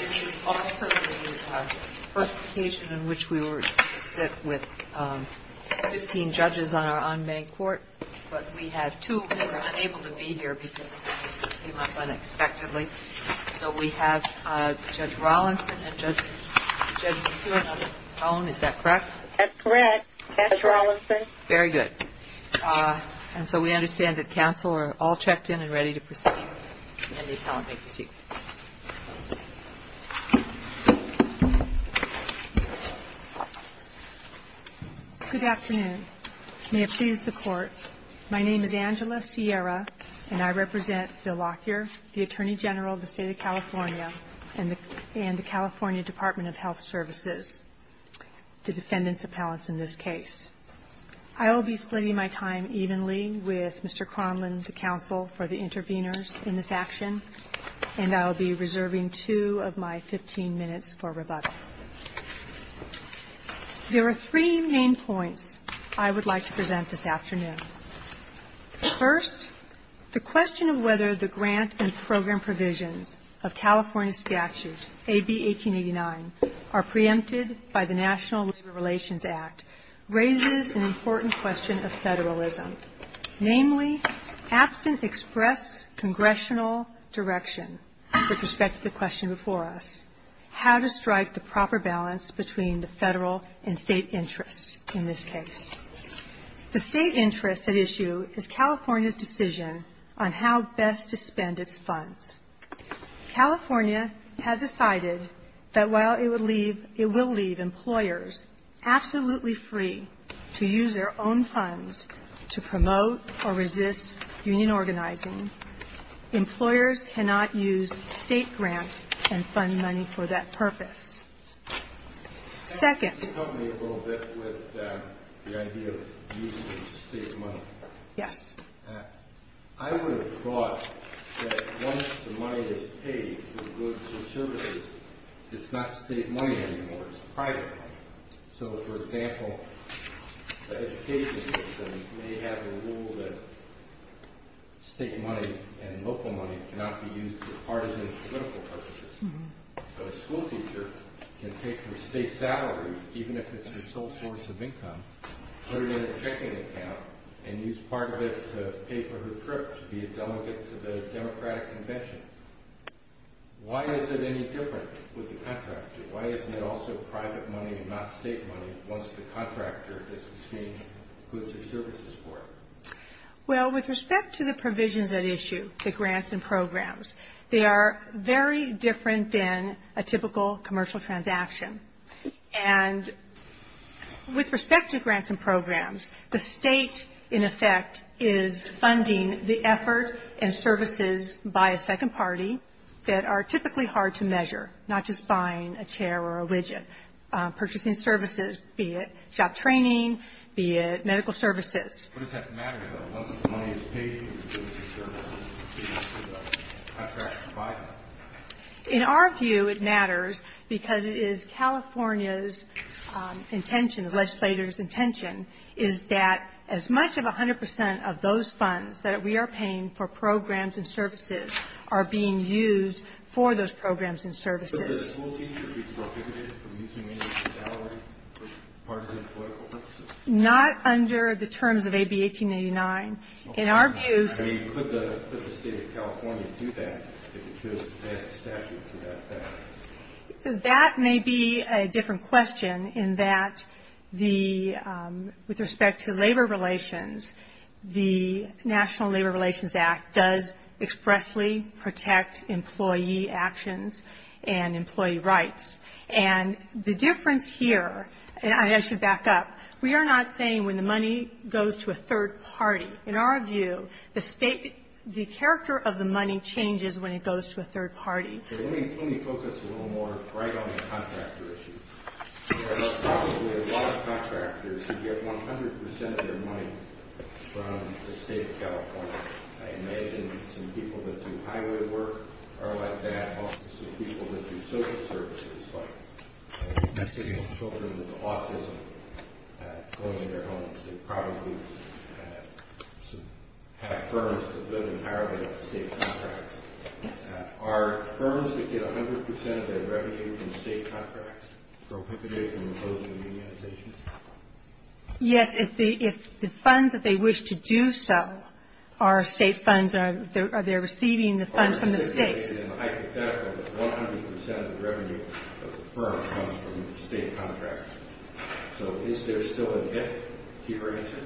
This is also the first occasion in which we were to sit with 15 judges on our on-bank court but we have two who were unable to be here because it came up unexpectedly. So we have Judge Rawlinson and Judge McEwen on the phone, is that correct? That's correct, Judge Rawlinson. Very good. And so we understand that counsel are all checked in and ready to proceed. Good afternoon. May it please the Court, my name is Angela Sierra, and I represent Phil Lockyer, the Attorney General of the State of California and the California Department of Health Services, the defendant's appellants in this case. I will be splitting my time evenly with Mr. Cronlund, the counsel for the interveners in this action, and I will be reserving two of my 15 minutes for rebuttal. There are three main points I would like to present this afternoon. First, the question of whether the grant and program provisions of California Statute, AB 1889, are preempted by the National Labor Relations Act, raises an important question of federalism, namely, absent express congressional direction with respect to the question before us, how to strike the proper balance between the Federal and State interests in this case. The State interest at issue is California's decision on how best to spend its funds. California has decided that while it would leave — it will leave employers absolutely free to use their own funds to promote or resist union organizing, employers cannot use State grants and fund money for that purpose. Second — Can you help me a little bit with the idea of using State money? Yes. I would have thought that once the money is paid for goods and services, it's not State money anymore. It's private money. So, for example, the education system may have a rule that State money and local money cannot be used for partisan political purposes. So a schoolteacher can take their State salary, even if it's their sole source of income, put it in a checking account, and use part of it to pay for her trip to be a delegate to the Democratic Convention. Why is it any different with the contractor? Why isn't it also private money and not State money once the contractor has exchanged goods or services for it? Well, with respect to the provisions at issue, the grants and programs, they are very different than a typical commercial transaction. And with respect to grants and programs, the State, in effect, is funding the effort and services by a second party that are typically hard to measure, not just buying a chair or a widget. Purchasing services, be it job training, be it medical services. What does that matter, though? Once the money is paid for goods and services, the contractor can buy them. In our view, it matters because it is California's intention, the legislator's intention, is that as much of 100 percent of those funds that we are paying for programs and services are being used for those programs and services. But does a schoolteacher be prohibited from using any of her salary for partisan political purposes? Not under the terms of AB 1899. In our view... I mean, could the State of California do that if it chose to pass a statute to that effect? That may be a different question in that the, with respect to labor relations, the National Labor Relations Act does expressly protect employee actions and employee rights. And the difference here, and I should back up, we are not saying when the money goes to a third party. In our view, the State, the character of the money changes when it goes to a third party. Let me focus a little more right on the contractor issue. There are probably a lot of contractors who get 100 percent of their money from the State of California. I imagine some people that do highway work are like that. Also some people that do social services, like messaging children with autism, going to their homes. They probably have firms that live entirely on State contracts. Are firms that get 100 percent of their revenue from State contracts prohibited from imposing unionization? Yes. If the funds that they wish to do so are State funds, are they receiving the funds from the State? Hypothetically, 100 percent of the revenue of the firm comes from State contracts. So is there still an if? Do you have an answer?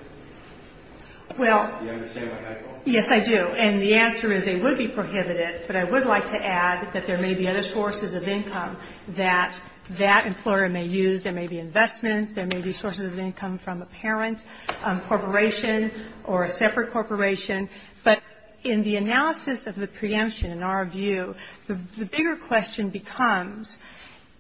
Do you understand my question? Yes, I do. And the answer is they would be prohibited. But I would like to add that there may be other sources of income that that employer may use. There may be investments. There may be sources of income from a parent corporation or a separate corporation. But in the analysis of the preemption, in our view, the bigger question becomes,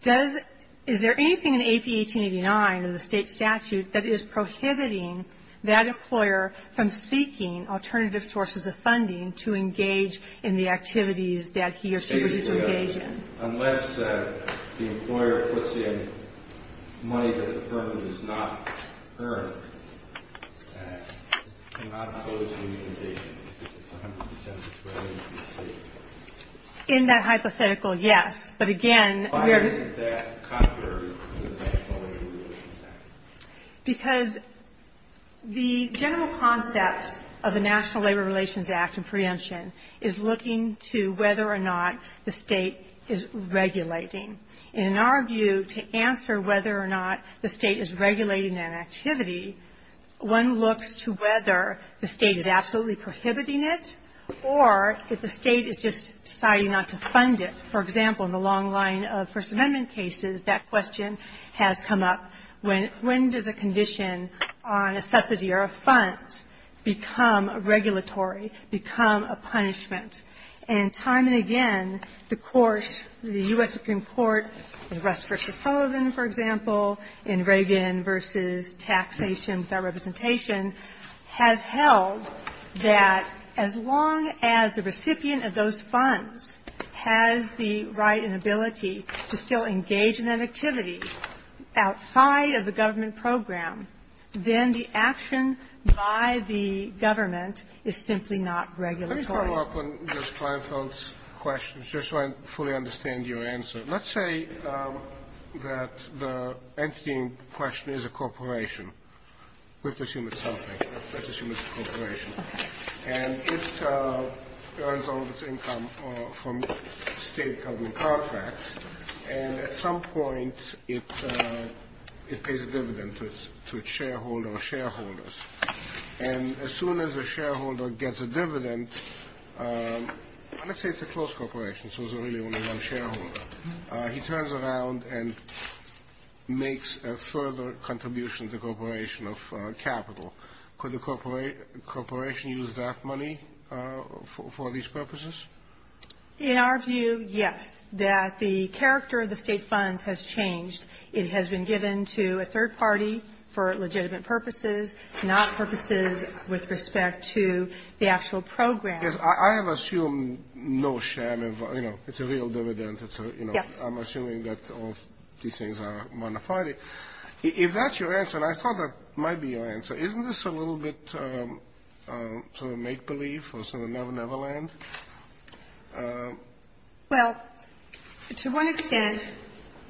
is there anything in AP 1889 or the State statute that is prohibiting that employer from seeking alternative sources of funding to engage in the activities that he or she would use to engage in? Basically, unless the employer puts in money that the firm does not earn, it cannot impose unionization. It's 100 percent of the revenue from the State. In that hypothetical, yes. But again, we are the Why is that contrary to the National Labor Relations Act? Because the general concept of the National Labor Relations Act and preemption is looking to whether or not the State is regulating. In our view, to answer whether or not the State is regulating an activity, one looks to whether the State is absolutely prohibiting it or if the State is just deciding not to fund it. For example, in the long line of First Amendment cases, that question has come up. When does a condition on a subsidy or a fund become a regulatory, become a punishment? And time and again, the courts, the U.S. Supreme Court, in Russ v. Sullivan, for example, in Reagan v. Taxation without Representation, has held that as long as the recipient of those funds has the right and ability to still engage in that activity outside of the government program, then the action by the government is simply not regulatory. Let me follow up on Ms. Kleinfeld's questions just so I fully understand your answer. Let's say that the entity in question is a corporation, which assumes it's something. Let's assume it's a corporation. And it earns all of its income from state government contracts. And at some point, it pays a dividend to its shareholder or shareholders. And as soon as a shareholder gets a dividend, let's say it's a closed corporation so there's really only one shareholder. He turns around and makes a further contribution to the corporation of capital. Could the corporation use that money for these purposes? In our view, yes. That the character of the state funds has changed. It has been given to a third party for legitimate purposes, not purposes with respect to the actual program. I have assumed no share of, you know, it's a real dividend. Yes. I'm assuming that all these things are modified. If that's your answer, and I thought that might be your answer, isn't this a little bit sort of make-believe or sort of Neverland? Well, to one extent,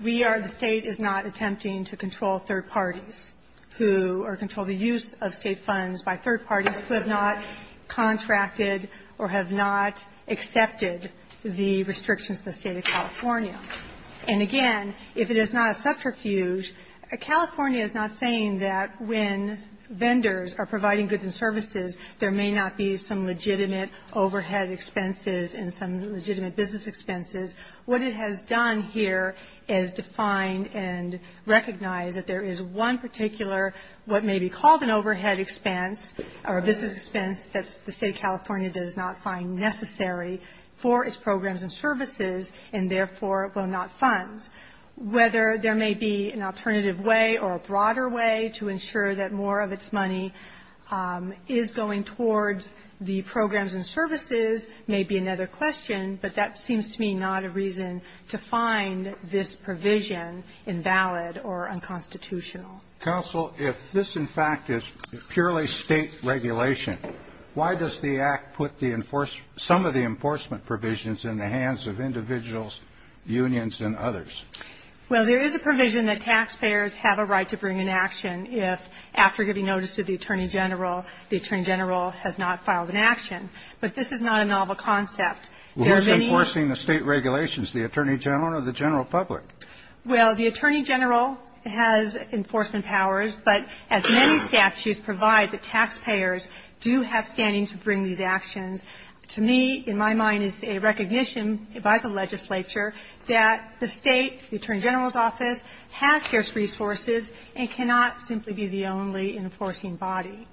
we are the State is not attempting to control third parties who are controlling the use of state funds by third parties who have not contracted or have not accepted the restrictions of the State of California. And again, if it is not a subterfuge, California is not saying that when vendors are providing goods and services, there may not be some legitimate overhead expenses and some legitimate business expenses. What it has done here is define and recognize that there is one particular what may be called an overhead expense or a business expense that the State of California does not find necessary for its programs and services and, therefore, will not fund. Whether there may be an alternative way or a broader way to ensure that more of its money is going towards the programs and services may be another question, but that seems to me not a reason to find this provision invalid or unconstitutional. Counsel, if this, in fact, is purely State regulation, why does the Act put the enforcement some of the enforcement provisions in the hands of individuals, unions, and others? Well, there is a provision that taxpayers have a right to bring in action if, after getting notice of the Attorney General, the Attorney General has not filed an action. But this is not a novel concept. We're enforcing the State regulations, the Attorney General or the general public? Well, the Attorney General has enforcement powers, but as many statutes provide, the taxpayers do have standing to bring these actions. To me, in my mind, it's a recognition by the legislature that the State, the Attorney General's office, has scarce resources and cannot simply be the only enforcing body.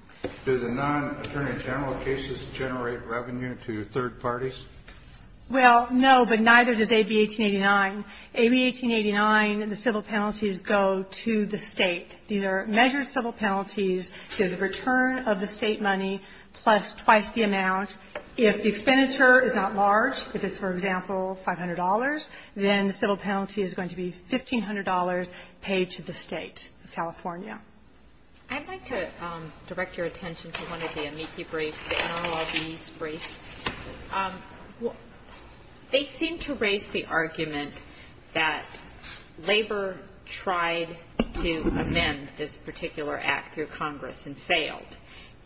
Do the non-Attorney General cases generate revenue to third parties? Well, no, but neither does AB-1889. AB-1889, the civil penalties go to the State. These are measured civil penalties. They're the return of the State money plus twice the amount. If the expenditure is not large, if it's, for example, $500, then the civil penalty is going to be $1,500 paid to the State of California. I'd like to direct your attention to one of the amici briefs, the NLRB's brief. They seem to raise the argument that Labor tried to amend this particular act through Congress and failed,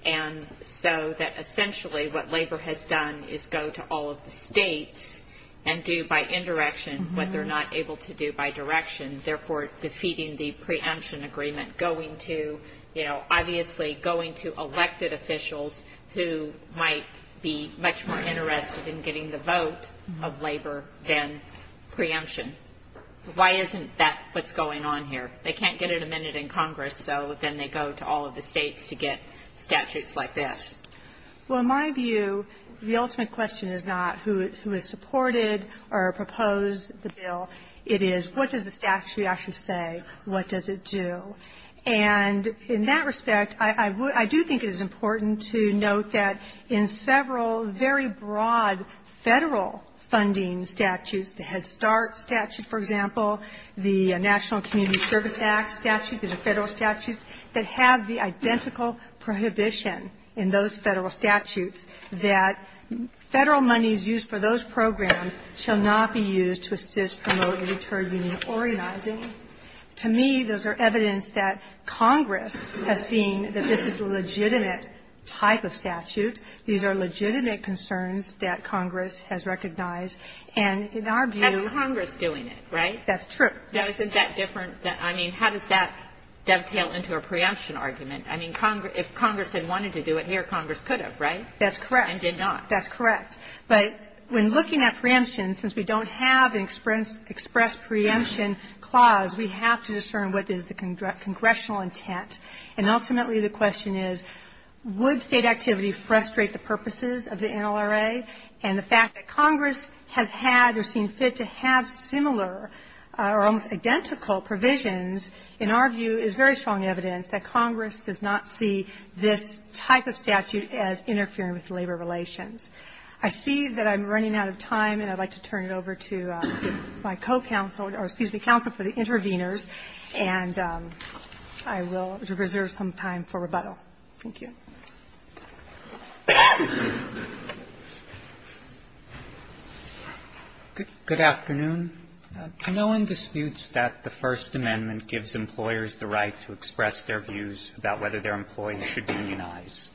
and so that essentially what Labor has done is go to all of the States and do by indirection what they're not able to do by direction, therefore defeating the preemption agreement, going to, you know, obviously going to elected officials who might be much more interested in getting the vote of Labor than preemption. Why isn't that what's going on here? They can't get it amended in Congress, so then they go to all of the States to get statutes like this. Well, in my view, the ultimate question is not who has supported or proposed the bill. It is what does the statute actually say? What does it do? And in that respect, I do think it is important to note that in several very broad Federal funding statutes, the Head Start statute, for example, the National Community Service Act statute, these are Federal statutes that have the identical prohibition in those Federal statutes that Federal monies used for those programs shall not be used to assist, promote, and deter union organizing. To me, those are evidence that Congress has seen that this is a legitimate type of statute. These are legitimate concerns that Congress has recognized. And in our view ---- That's Congress doing it, right? That's true. Now, isn't that different? I mean, how does that dovetail into a preemption argument? I mean, if Congress had wanted to do it here, Congress could have, right? That's correct. And did not. That's correct. But when looking at preemption, since we don't have an express preemption clause, we have to discern what is the congressional intent. And ultimately, the question is, would State activity frustrate the purposes of the NLRA? And the fact that Congress has had or seen fit to have similar or almost identical provisions, in our view, is very strong evidence that Congress does not see this type of statute as interfering with labor relations. I see that I'm running out of time, and I'd like to turn it over to my co-counsel or, excuse me, counsel for the interveners, and I will reserve some time for rebuttal. Thank you. Good afternoon. No one disputes that the First Amendment gives employers the right to express their views about whether their employees should be unionized.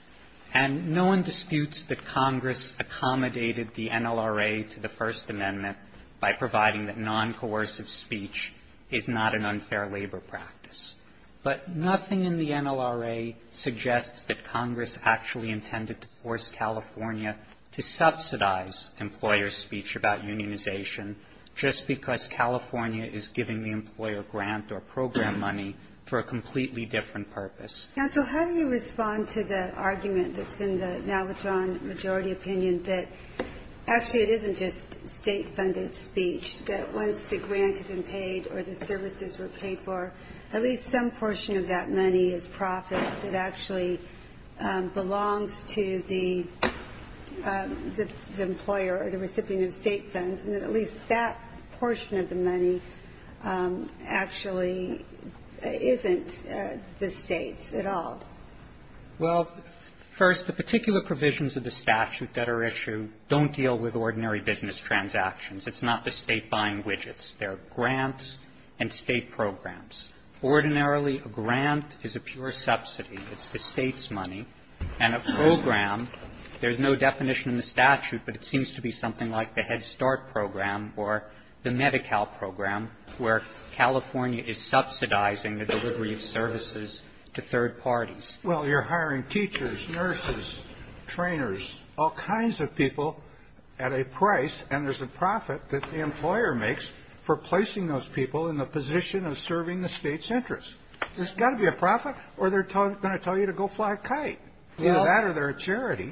And no one disputes that Congress accommodated the NLRA to the First Amendment by providing that noncoercive speech is not an unfair labor practice. But nothing in the NLRA suggests that Congress actually intended to force California to subsidize employer speech about unionization just because California is giving the employer grant or program money for a completely different purpose. Counsel, how do you respond to the argument that's in the now withdrawn majority opinion that actually it isn't just State-funded speech, that once the grant had been paid or the services were paid for, at least some portion of that money is profit that actually belongs to the employer or the recipient of State funds, and that at least that portion of the money actually isn't the State's at all? Well, first, the particular provisions of the statute that are issued don't deal with ordinary business transactions. It's not the State buying widgets. They're grants and State programs. Ordinarily, a grant is a pure subsidy. It's the State's money. And a program, there's no definition in the statute, but it seems to be something like the Head Start program or the Medi-Cal program, where California is subsidizing the delivery of services to third parties. Well, you're hiring teachers, nurses, trainers, all kinds of people at a price, and there's a profit that the employer makes for placing those people in the position of serving the State's interests. There's got to be a profit, or they're going to tell you to go fly a kite. Either that or they're a charity.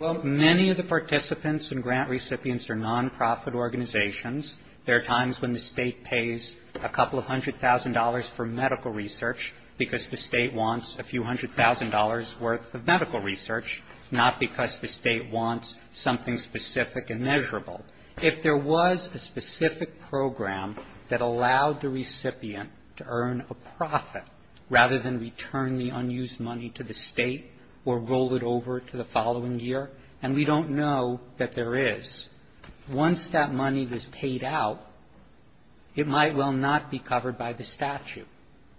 Well, many of the participants and grant recipients are nonprofit organizations. There are times when the State pays a couple of hundred thousand dollars for medical research because the State wants a few hundred thousand dollars' worth of medical research, not because the State wants something specific and measurable. If there was a specific program that allowed the recipient to earn a profit rather than return the unused money to the State or roll it over to the following year, and we don't know that there is, once that money is paid out, it might well not be covered by the statute.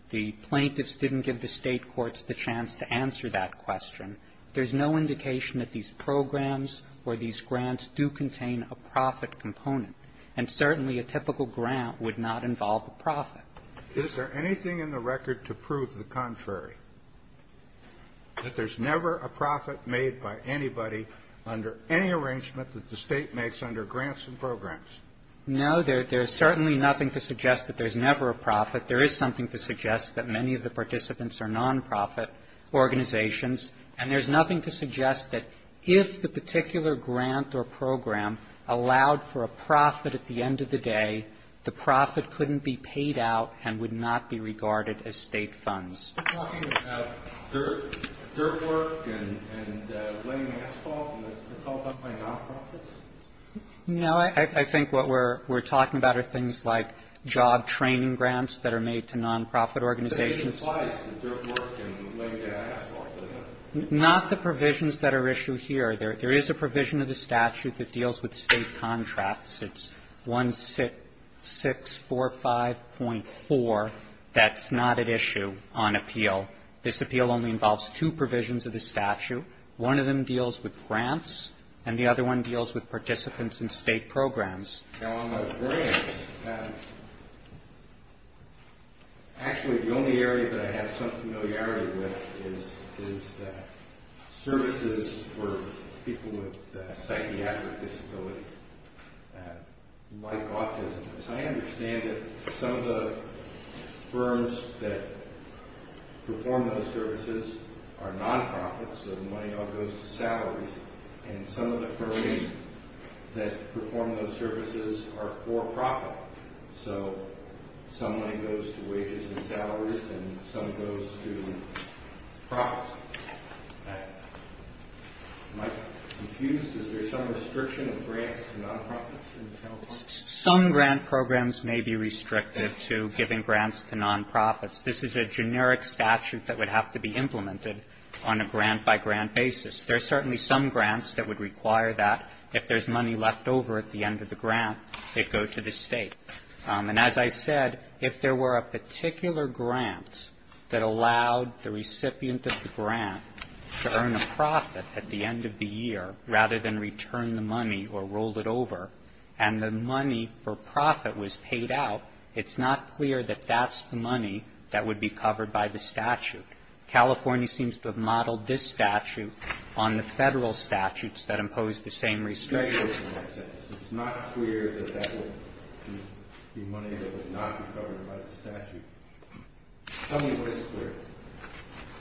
The plaintiffs didn't give the State courts the chance to answer that question. There's no indication that these programs or these grants do contain a profit component. And certainly a typical grant would not involve a profit. Is there anything in the record to prove the contrary, that there's never a profit made by anybody under any arrangement that the State makes under grants and programs? No. There's certainly nothing to suggest that there's never a profit. There is something to suggest that many of the participants are nonprofit organizations. And there's nothing to suggest that if the particular grant or program allowed for a profit at the end of the day, the profit couldn't be paid out and would not be regarded as State funds. We're talking about dirt work and laying asphalt, and it's all done by nonprofits? No. I think what we're talking about are things like job training grants that are made to nonprofit organizations. But it applies to dirt work and laying the asphalt, doesn't it? Not the provisions that are issued here. There is a provision of the statute that deals with State contracts. It's 1645.4. That's not at issue on appeal. This appeal only involves two provisions of the statute. One of them deals with grants, and the other one deals with participants in State programs. Actually, the only area that I have some familiarity with is services for people with psychiatric disabilities, like autism. I understand that some of the firms that perform those services are nonprofits, and some of the firms that perform those services are for profit. So some money goes to wages and salaries, and some goes to profits. Am I confused? Is there some restriction of grants to nonprofits in California? Some grant programs may be restricted to giving grants to nonprofits. This is a generic statute that would have to be implemented on a grant-by-grant basis. There are certainly some grants that would require that. If there's money left over at the end of the grant, it goes to the State. And as I said, if there were a particular grant that allowed the recipient of the grant to earn a profit at the end of the year, rather than return the money or roll it over, and the money for profit was paid out, it's not clear that that's the money that would be covered by the statute. California seems to have modeled this statute on the Federal statutes that impose the same restrictions. It's not clear that that would be money that would not be covered by the statute. Tell me what is clear.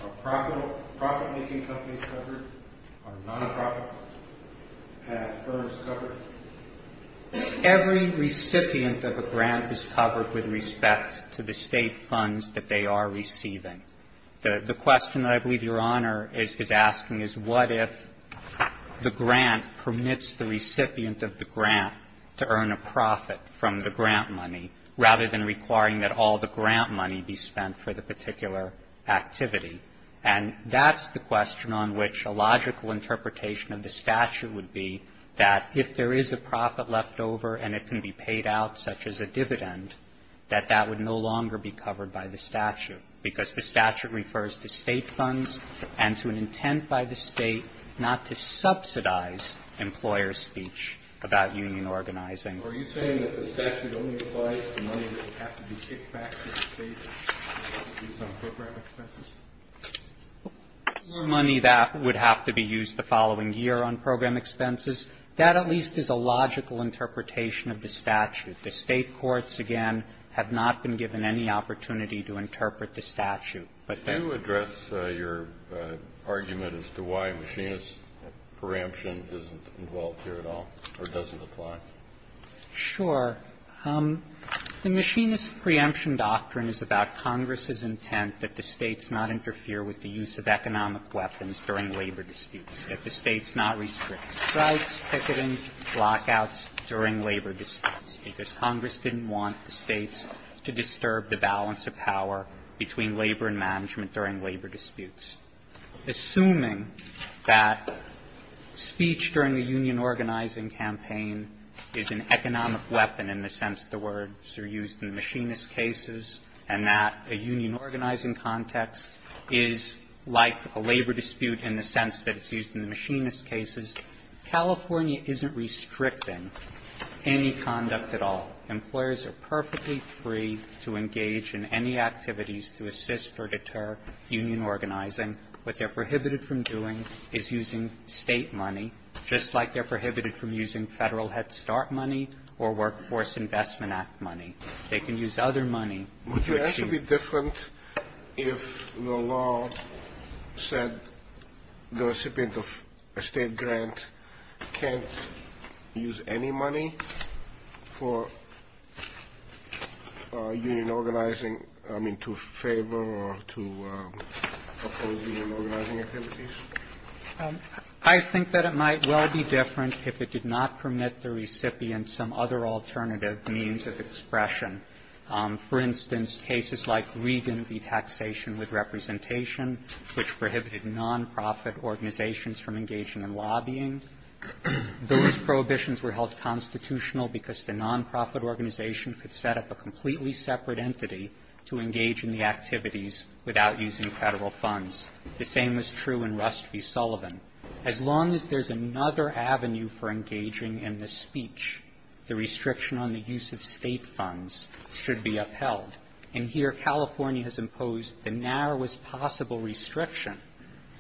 Are profit-making companies covered? Are nonprofits firms covered? Every recipient of a grant is covered with respect to the State funds that they are receiving. The question that I believe Your Honor is asking is what if the grant permits the recipient of the grant to earn a profit from the grant money, rather than requiring that all the grant money be spent for the particular activity? And that's the question on which a logical interpretation of the statute would be, that if there is a profit left over and it can be paid out, such as a dividend, that that would no longer be covered by the statute, because the statute refers to State funds and to an intent by the State not to subsidize employer speech about union organizing. Are you saying that the statute only applies to money that would have to be kicked back to the State to be used on program expenses? Or money that would have to be used the following year on program expenses. That at least is a logical interpretation of the statute. The State courts, again, have not been given any opportunity to interpret the statute. But then you address your argument as to why machinist preemption isn't involved here at all, or doesn't apply. Sure. The machinist preemption doctrine is about Congress's intent that the States not interfere with the use of economic weapons during labor disputes, that the States not restrict strikes, picketing, lockouts during labor disputes, because Congress didn't want the States to disturb the balance of power between labor and management during labor disputes. Assuming that speech during a union organizing campaign is an economic weapon in the sense the words are used in machinist cases, and that a union organizing context is like a labor dispute in the sense that it's used in the machinist cases, California isn't restricting any conduct at all. Employers are perfectly free to engage in any activities to assist or deter union organizing. What they're prohibited from doing is using State money, just like they're prohibited from using Federal Head Start money or Workforce Investment Act money. They can use other money to achieve that. So would it be different if the law said the recipient of a State grant can't use any money for union organizing, I mean, to favor or to oppose union organizing activities? I think that it might well be different if it did not permit the recipient some other alternative means of expression. For instance, cases like Regan v. Taxation with Representation, which prohibited nonprofit organizations from engaging in lobbying. Those prohibitions were held constitutional because the nonprofit organization could set up a completely separate entity to engage in the activities without using Federal funds. The same is true in Rust v. Sullivan. As long as there's another avenue for engaging in the speech, the restriction on the use of State funds should be upheld. And here California has imposed the narrowest possible restriction.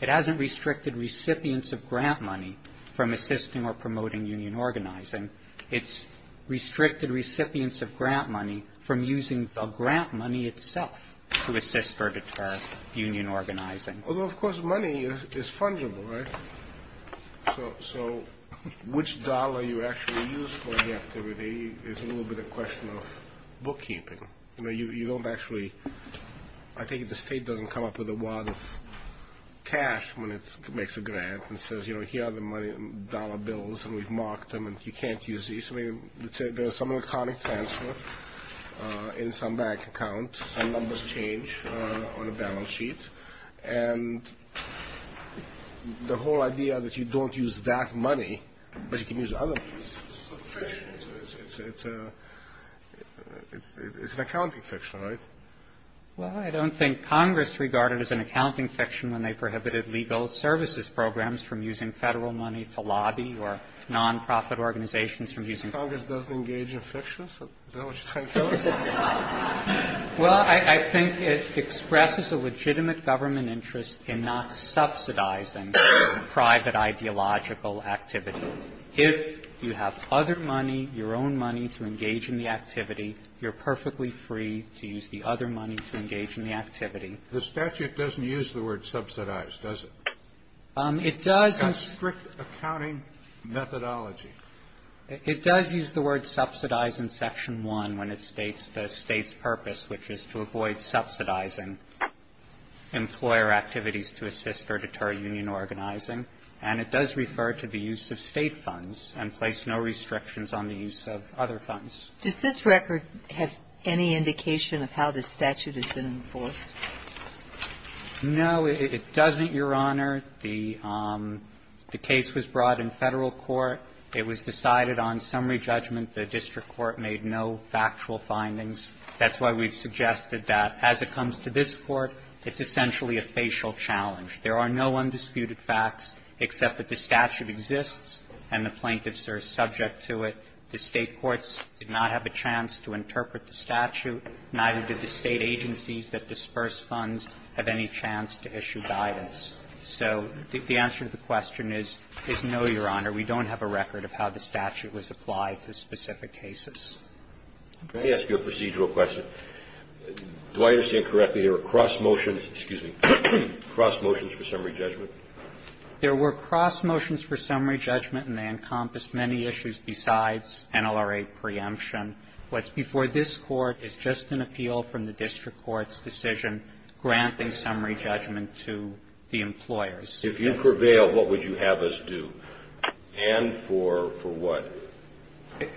It hasn't restricted recipients of grant money from assisting or promoting union organizing. It's restricted recipients of grant money from using the grant money itself to assist or deter union organizing. Although, of course, money is fungible, right? So which dollar you actually use for the activity is a little bit a question of bookkeeping. You know, you don't actually, I think the State doesn't come up with a wad of cash when it makes a grant and says, you know, here are the dollar bills and we've marked them and you can't use these. I mean, let's say there's some electronic transfer in some bank account. Some numbers change on a balance sheet. And the whole idea that you don't use that money, but you can use other things is a fiction. It's an accounting fiction, right? Well, I don't think Congress regarded it as an accounting fiction when they prohibited legal services programs from using Federal money to lobby or nonprofit organizations from using it. Congress doesn't engage in fiction? Is that what you're trying to tell us? Well, I think it expresses a legitimate government interest in not subsidizing private ideological activity. If you have other money, your own money to engage in the activity, you're perfectly free to use the other money to engage in the activity. The statute doesn't use the word subsidize, does it? It does. It's got strict accounting methodology. It does use the word subsidize in Section 1 when it states the State's purpose, which is to avoid subsidizing employer activities to assist or deter union organizing. And it does refer to the use of State funds and place no restrictions on the use of other funds. Does this record have any indication of how this statute has been enforced? No, it doesn't, Your Honor. The case was brought in Federal court. It was decided on summary judgment. The district court made no factual findings. That's why we've suggested that as it comes to this Court, it's essentially a facial challenge. There are no undisputed facts except that the statute exists and the plaintiffs are subject to it. The State courts did not have a chance to interpret the statute, neither did the State agencies that disperse funds have any chance to issue guidance. So the answer to the question is no, Your Honor. We don't have a record of how the statute was applied to specific cases. Let me ask you a procedural question. Do I understand correctly there were cross motions for summary judgment? There were cross motions for summary judgment, and they encompassed many issues besides NLRA preemption. What's before this Court is just an appeal from the district court's decision granting summary judgment to the employers. If you prevail, what would you have us do? And for what?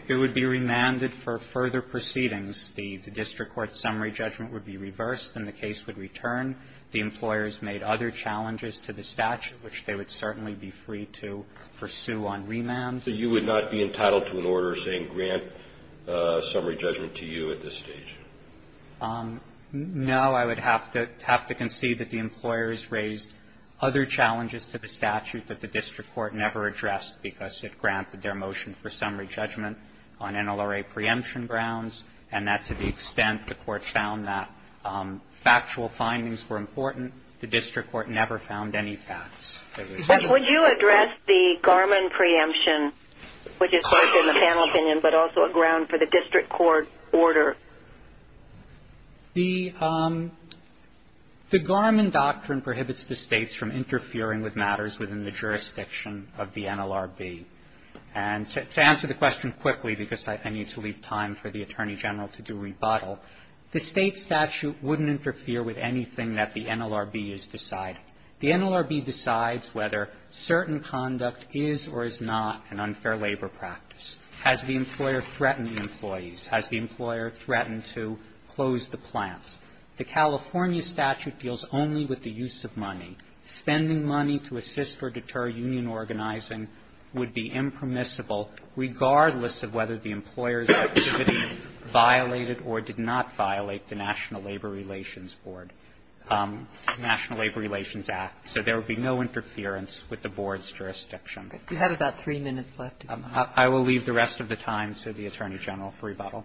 It would be remanded for further proceedings. The district court's summary judgment would be reversed and the case would return. The employers made other challenges to the statute, which they would certainly be free to pursue on remand. So you would not be entitled to an order saying grant summary judgment to you at this stage? No. I would have to concede that the employers raised other challenges to the statute that the district court never addressed because it granted their motion for summary judgment on NLRA preemption grounds, and that to the extent the court found that factual findings were important, the district court never found any facts. Would you address the Garmin preemption, which is both in the panel opinion but also a ground for the district court order? The Garmin doctrine prohibits the states from interfering with matters within the jurisdiction of the NLRB. And to answer the question quickly, because I need to leave time for the Attorney General to do rebuttal, the state statute wouldn't interfere with anything that the NLRB is deciding. The NLRB decides whether certain conduct is or is not an unfair labor practice. Has the employer threatened the employees? Has the employer threatened to close the plants? The California statute deals only with the use of money. Spending money to assist or deter union organizing would be impermissible regardless of whether the employer's activity violated or did not violate the National Labor Relations Board, National Labor Relations Act. So there would be no interference with the board's jurisdiction. You have about three minutes left. I will leave the rest of the time to the Attorney General for rebuttal.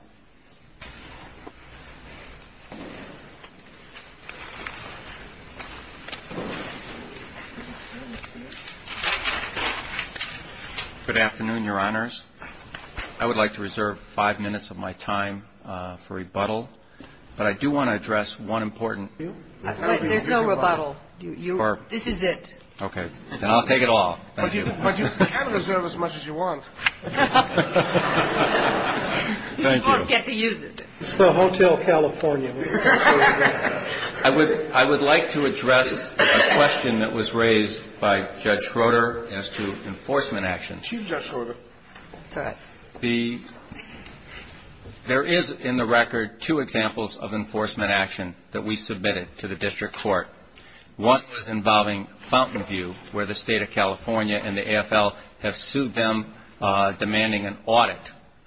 Good afternoon, Your Honors. I would like to reserve five minutes of my time for rebuttal. But I do want to address one important issue. There's no rebuttal. This is it. Okay. Then I'll take it all. But you can reserve as much as you want. Thank you. You still don't get to use it. It's the Hotel California. I would like to address a question that was raised by Judge Schroeder as to enforcement action. She's Judge Schroeder. That's all right. There is in the record two examples of enforcement action that we submitted to the district court. One was involving Fountainview, where the State of California and the AFL have sued them demanding an audit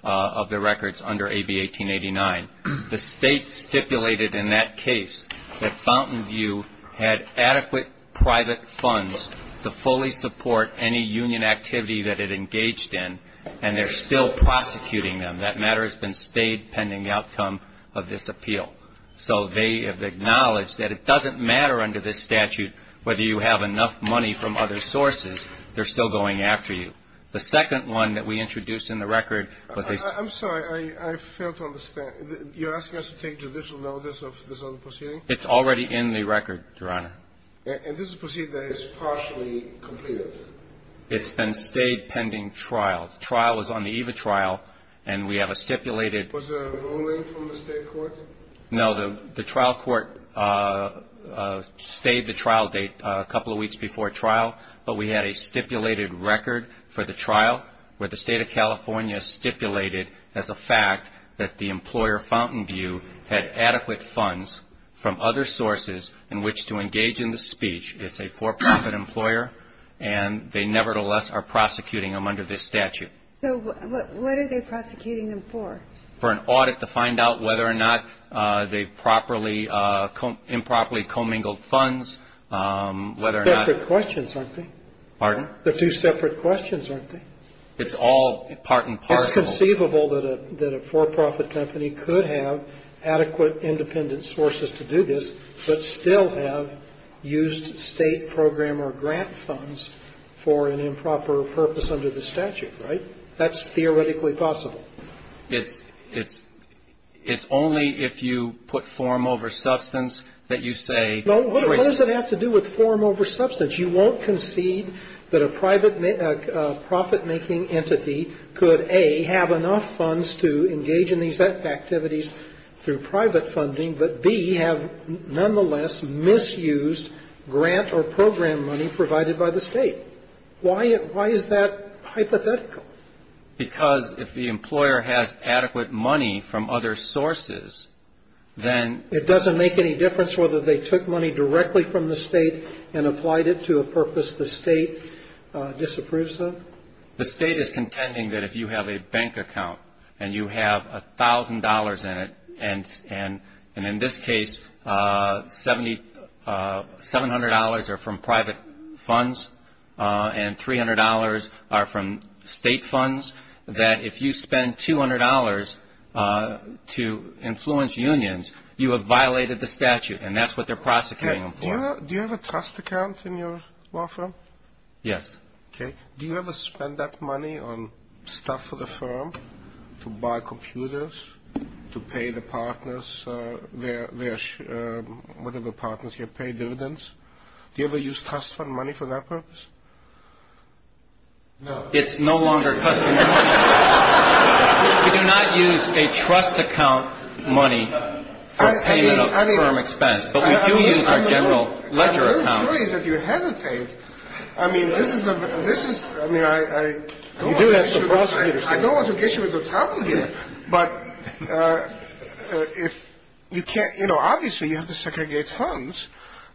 of their records under AB 1889. The State stipulated in that case that Fountainview had adequate private funds to fully support any union activity that it engaged in, and they're still prosecuting them. That matter has been stayed pending the outcome of this appeal. So they have acknowledged that it doesn't matter under this statute whether you have enough money from other sources. They're still going after you. The second one that we introduced in the record was a ---- I'm sorry. I fail to understand. You're asking us to take judicial notice of this other proceeding? It's already in the record, Your Honor. And this is a proceeding that is partially completed? It's been stayed pending trial. The trial was on the EVA trial, and we have a stipulated ---- Was there a ruling from the State court? No. The trial court stayed the trial date a couple of weeks before trial, but we had a stipulated record for the trial where the State of California stipulated as a fact that the employer, Fountainview, had adequate funds from other sources in which to engage in the speech. It's a for-profit employer, and they nevertheless are prosecuting them under this statute. So what are they prosecuting them for? For an audit to find out whether or not they've improperly commingled funds, whether or not ---- Separate questions, aren't they? Pardon? They're two separate questions, aren't they? It's all part and parcel. It's conceivable that a for-profit company could have adequate independent sources to do this, but still have used State program or grant funds for an improper purpose under the statute, right? That's theoretically possible. It's only if you put form over substance that you say ---- No. What does it have to do with form over substance? You won't concede that a private profit-making entity could, A, have enough funds to engage in these activities through private funding, but, B, have nonetheless misused grant or program money provided by the State. Why is that hypothetical? Because if the employer has adequate money from other sources, then ---- It doesn't make any difference whether they took money directly from the State and applied it to a purpose the State disapproves of? The State is contending that if you have a bank account and you have $1,000 in it, and in this case $700 are from private funds and $300 are from State funds, that if you spend $200 to influence unions, you have violated the statute, and that's what they're prosecuting them for. Do you have a trust account in your law firm? Yes. Okay. Do you ever spend that money on stuff for the firm, to buy computers, to pay the partners, whatever partners here, pay dividends? Do you ever use trust fund money for that purpose? No. It's no longer customer money. We do not use a trust account money for payment of firm expense, but we do use our general ledger accounts. I'm worried that you hesitate. I mean, this is the ---- You do have some possibilities. I don't want to get you into trouble here, but if you can't ---- You know, obviously you have to segregate funds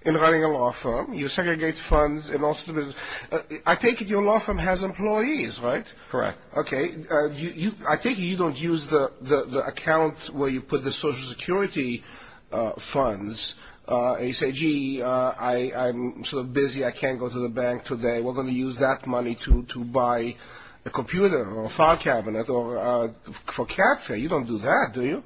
in running a law firm. You segregate funds in all sorts of business. I take it your law firm has employees, right? Correct. Okay. I take it you don't use the account where you put the Social Security funds, and you say, gee, I'm sort of busy, I can't go to the bank today. We're going to use that money to buy a computer or a file cabinet for cab fare. You don't do that, do you?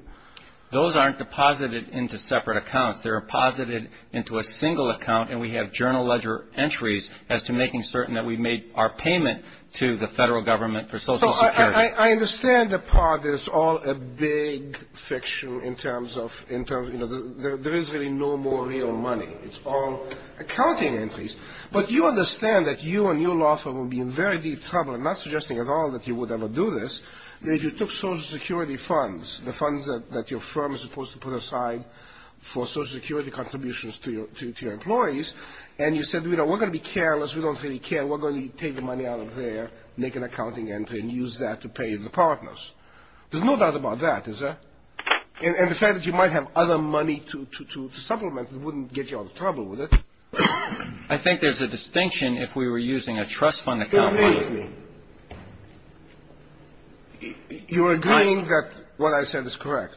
Those aren't deposited into separate accounts. They're deposited into a single account, and we have general ledger entries as to making certain that we made our payment to the federal government for Social Security. So I understand the part that it's all a big fiction in terms of, you know, there is really no more real money. It's all accounting entries. But you understand that you and your law firm would be in very deep trouble, I'm not suggesting at all that you would ever do this, that if you took Social Security funds, the funds that your firm is supposed to put aside for Social Security contributions to your employees, and you said, you know, we're going to be careless, we don't really care, we're going to take the money out of there, make an accounting entry, and use that to pay the partners. There's no doubt about that, is there? And the fact that you might have other money to supplement wouldn't get you out of trouble, would it? I think there's a distinction if we were using a trust fund account. Don't maze me. You're agreeing that what I said is correct?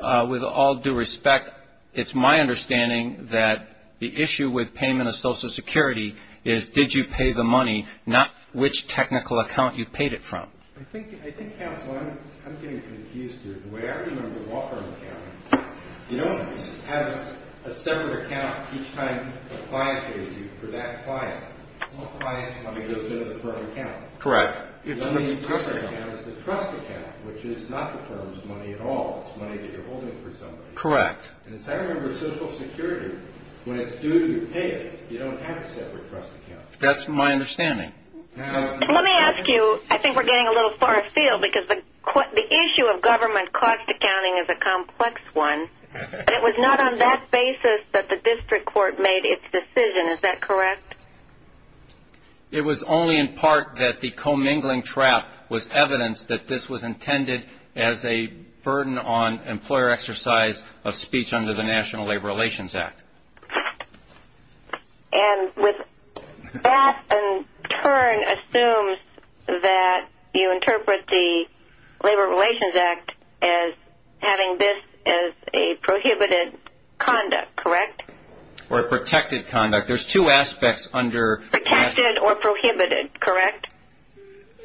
With all due respect, it's my understanding that the issue with payment of Social Security is, did you pay the money, not which technical account you paid it from. I think, counsel, I'm getting confused here. The way I remember the law firm account, you don't have a separate account each time the client pays you. For that client, all client money goes into the firm account. Correct. The trust account is the trust account, which is not the firm's money at all. It's money that you're holding for somebody. Correct. And as I remember Social Security, when it's due, you pay it. You don't have a separate trust account. That's my understanding. Let me ask you, I think we're getting a little far afield, because the issue of government cost accounting is a complex one. It was not on that basis that the district court made its decision, is that correct? It was only in part that the commingling trap was evidence that this was intended as a burden on employer exercise of speech under the National Labor Relations Act. And with that in turn assumes that you interpret the Labor Relations Act as having this as a prohibited conduct, correct? Or a protected conduct. There's two aspects under. Protected or prohibited, correct?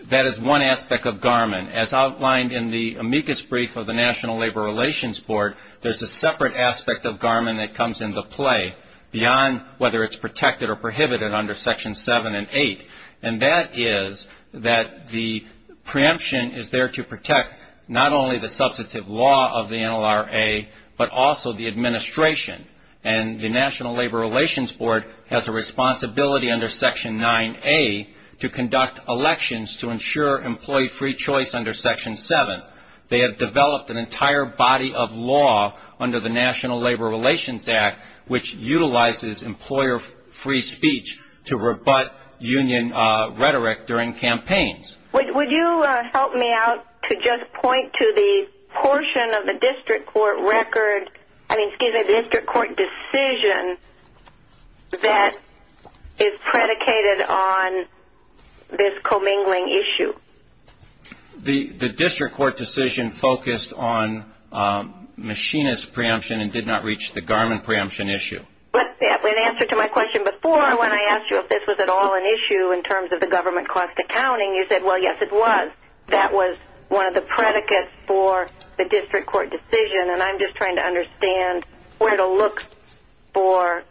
That is one aspect of Garmin. As outlined in the amicus brief of the National Labor Relations Board, there's a separate aspect of Garmin that comes into play beyond whether it's protected or prohibited under Section 7 and 8. And that is that the preemption is there to protect not only the substantive law of the NLRA, but also the administration. And the National Labor Relations Board has a responsibility under Section 9A to conduct elections to ensure employee free choice under Section 7. They have developed an entire body of law under the National Labor Relations Act which utilizes employer free speech to rebut union rhetoric during campaigns. Would you help me out to just point to the portion of the district court record, I mean, excuse me, the district court decision that is predicated on this commingling issue? The district court decision focused on machinist preemption and did not reach the Garmin preemption issue. In answer to my question before when I asked you if this was at all an issue in terms of the government cost accounting, you said, well, yes, it was. That was one of the predicates for the district court decision, and I'm just trying to understand where to look for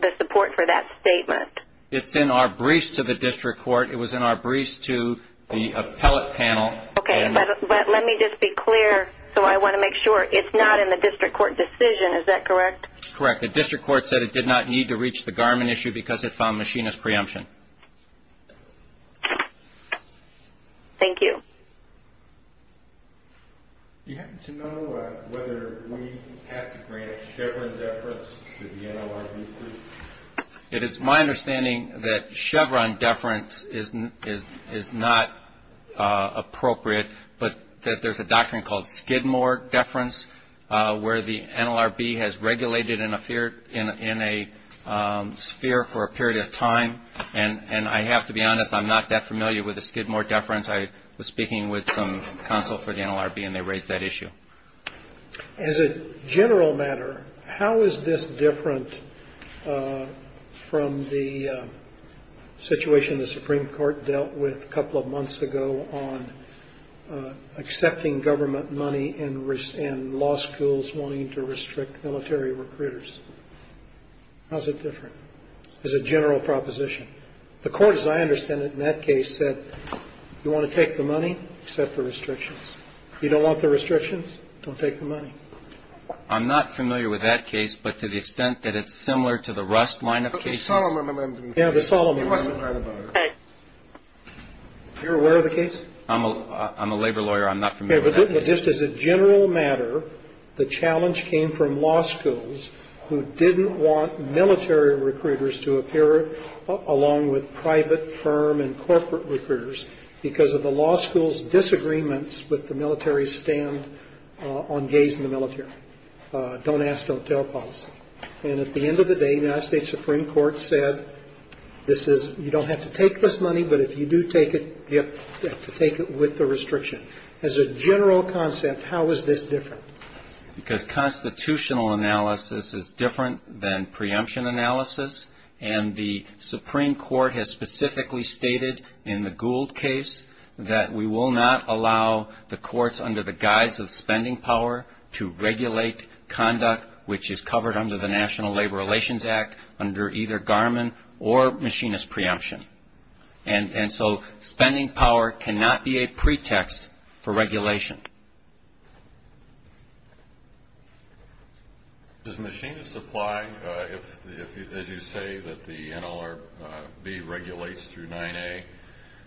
the support for that statement. It's in our briefs to the district court. It was in our briefs to the appellate panel. Okay, but let me just be clear, so I want to make sure, it's not in the district court decision, is that correct? Correct. The district court said it did not need to reach the Garmin issue because it found machinist preemption. Thank you. Do you happen to know whether we have to grant a Chevron deference to the NLRB group? It is my understanding that Chevron deference is not appropriate, but that there's a doctrine called Skidmore deference where the NLRB has regulated in a sphere for a period of time. And I have to be honest, I'm not that familiar with the Skidmore deference. I was speaking with some counsel for the NLRB, and they raised that issue. As a general matter, how is this different from the situation the Supreme Court dealt with a couple of months ago on accepting government money and law schools wanting to restrict military recruiters? How is it different as a general proposition? The court, as I understand it in that case, said, you want to take the money, accept the restrictions. You don't want the restrictions, don't take the money. I'm not familiar with that case, but to the extent that it's similar to the Rust line of cases. The Solomon amendment. Yeah, the Solomon amendment. You're aware of the case? I'm a labor lawyer. I'm not familiar with that case. Just as a general matter, the challenge came from law schools who didn't want military recruiters to appear, along with private firm and corporate recruiters, because of the law school's disagreements with the military's stand on gays in the military. Don't ask, don't tell policy. And at the end of the day, the United States Supreme Court said you don't have to take this money, but if you do take it, you have to take it with the restriction. As a general concept, how is this different? Because constitutional analysis is different than preemption analysis, and the Supreme Court has specifically stated in the Gould case that we will not allow the courts, under the guise of spending power, to regulate conduct, which is covered under the National Labor Relations Act, under either Garmin or Machinist preemption. And so spending power cannot be a pretext for regulation. Does Machinist apply if, as you say, that the NLRB regulates through 9A,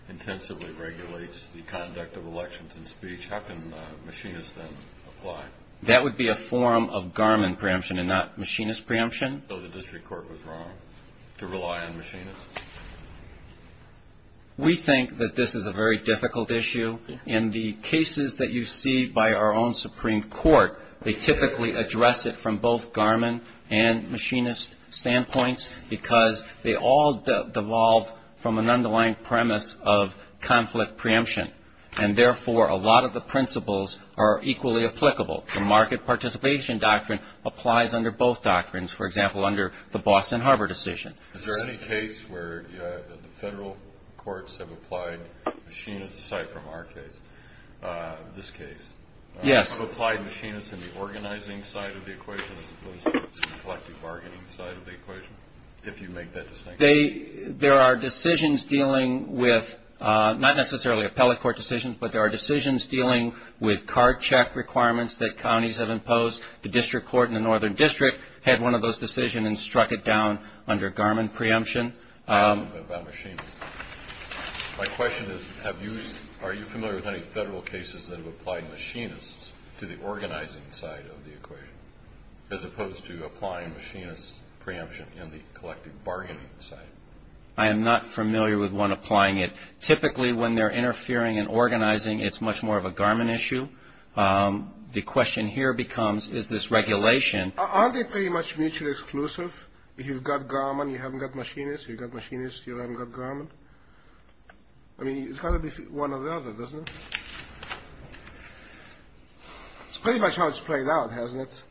intensively regulates the conduct of elections and speech? How can Machinist then apply? That would be a form of Garmin preemption and not Machinist preemption. So the district court was wrong to rely on Machinist? We think that this is a very difficult issue. In the cases that you see by our own Supreme Court, they typically address it from both Garmin and Machinist standpoints because they all devolve from an underlying premise of conflict preemption, and therefore a lot of the principles are equally applicable. The market participation doctrine applies under both doctrines, for example, under the Boston Harbor decision. Is there any case where the federal courts have applied Machinist, aside from our case, this case? Yes. Have applied Machinist in the organizing side of the equation as opposed to the collective bargaining side of the equation, if you make that distinction? There are decisions dealing with not necessarily appellate court decisions, but there are decisions dealing with card check requirements that counties have imposed. The district court in the northern district had one of those decisions and struck it down under Garmin preemption. My question is, are you familiar with any federal cases that have applied Machinist to the organizing side of the equation, as opposed to applying Machinist preemption in the collective bargaining side? I am not familiar with one applying it. Typically, when they're interfering in organizing, it's much more of a Garmin issue. The question here becomes, is this regulation? Aren't they pretty much mutually exclusive? If you've got Garmin, you haven't got Machinist. If you've got Machinist, you haven't got Garmin. I mean, it's got to be one or the other, doesn't it? It's pretty much how it's played out, hasn't it?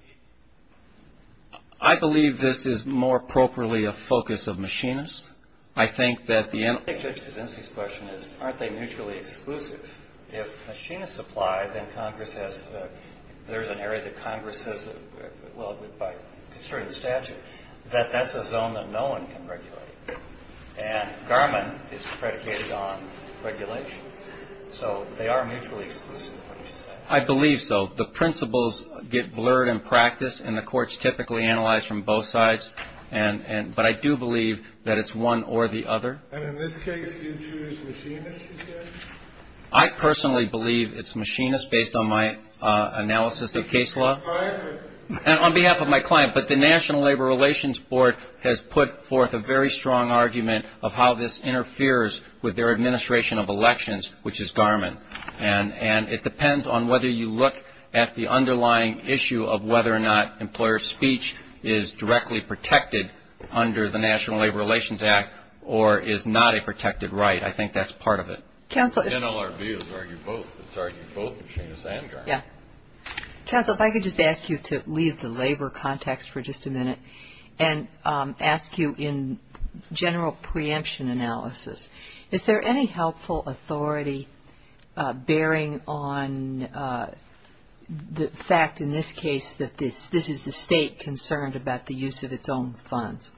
I believe this is more appropriately a focus of Machinist. I think that the answer to Zinzi's question is, aren't they mutually exclusive? If Machinist applied, then Congress has to – there's an area that Congress says, well, by concerning the statute, that that's a zone that no one can regulate. And Garmin is predicated on regulation. So they are mutually exclusive, would you say? I believe so. The principles get blurred in practice, and the court's typically analyzed from both sides. But I do believe that it's one or the other. And in this case, do you choose Machinist, you said? I personally believe it's Machinist, based on my analysis of case law. On behalf of who? On behalf of my client. But the National Labor Relations Board has put forth a very strong argument of how this interferes with their administration of elections, which is Garmin. And it depends on whether you look at the underlying issue of whether or not employer speech is directly protected under the National Labor Relations Act or is not a protected right. I think that's part of it. Counsel. NLRB has argued both. It's argued both Machinist and Garmin. Yeah. Counsel, if I could just ask you to leave the labor context for just a minute and ask you in general preemption analysis, is there any helpful authority bearing on the fact, in this case, that this is the state concerned about the use of its own funds?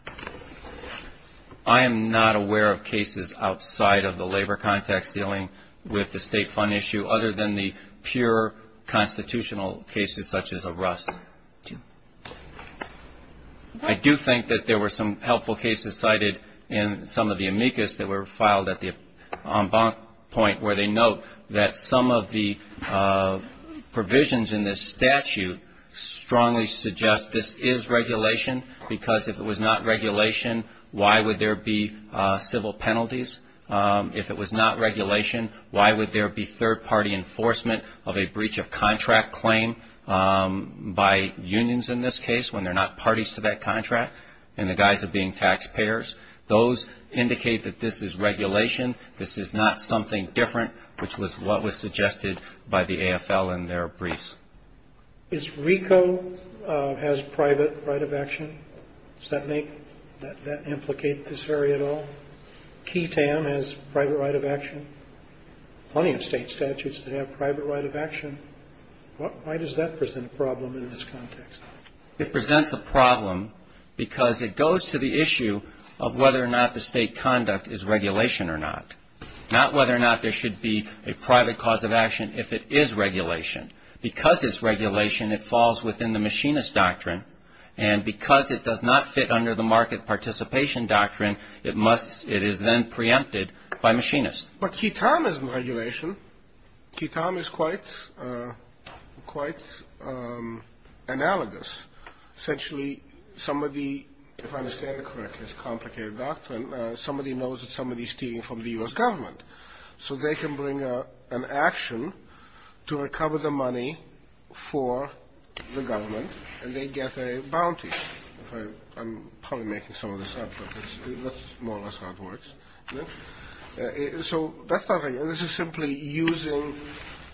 I am not aware of cases outside of the labor context dealing with the state fund issue, other than the pure constitutional cases such as Arrest. I do think that there were some helpful cases cited in some of the amicus that were filed at the en banc point where they note that some of the provisions in this statute strongly suggest this is regulation, because if it was not regulation, why would there be civil penalties? If it was not regulation, why would there be third-party enforcement of a breach of contract claim by unions in this case when they're not parties to that contract in the guise of being taxpayers? Those indicate that this is regulation. This is not something different, which was what was suggested by the AFL in their briefs. Is RICO has private right of action? Does that implicate this very at all? Key Tam has private right of action. Plenty of state statutes that have private right of action. Why does that present a problem in this context? It presents a problem because it goes to the issue of whether or not the state conduct is regulation or not, not whether or not there should be a private cause of action if it is regulation. Because it's regulation, it falls within the machinist doctrine, and because it does not fit under the market participation doctrine, it is then preempted by machinists. But Key Tam isn't regulation. Key Tam is quite analogous. Essentially, if I understand it correctly, it's a complicated doctrine. Somebody knows that somebody is stealing from the U.S. government, so they can bring an action to recover the money for the government, and they get a bounty. I'm probably making some of this up, but that's more or less how it works. So that's not right. This is simply using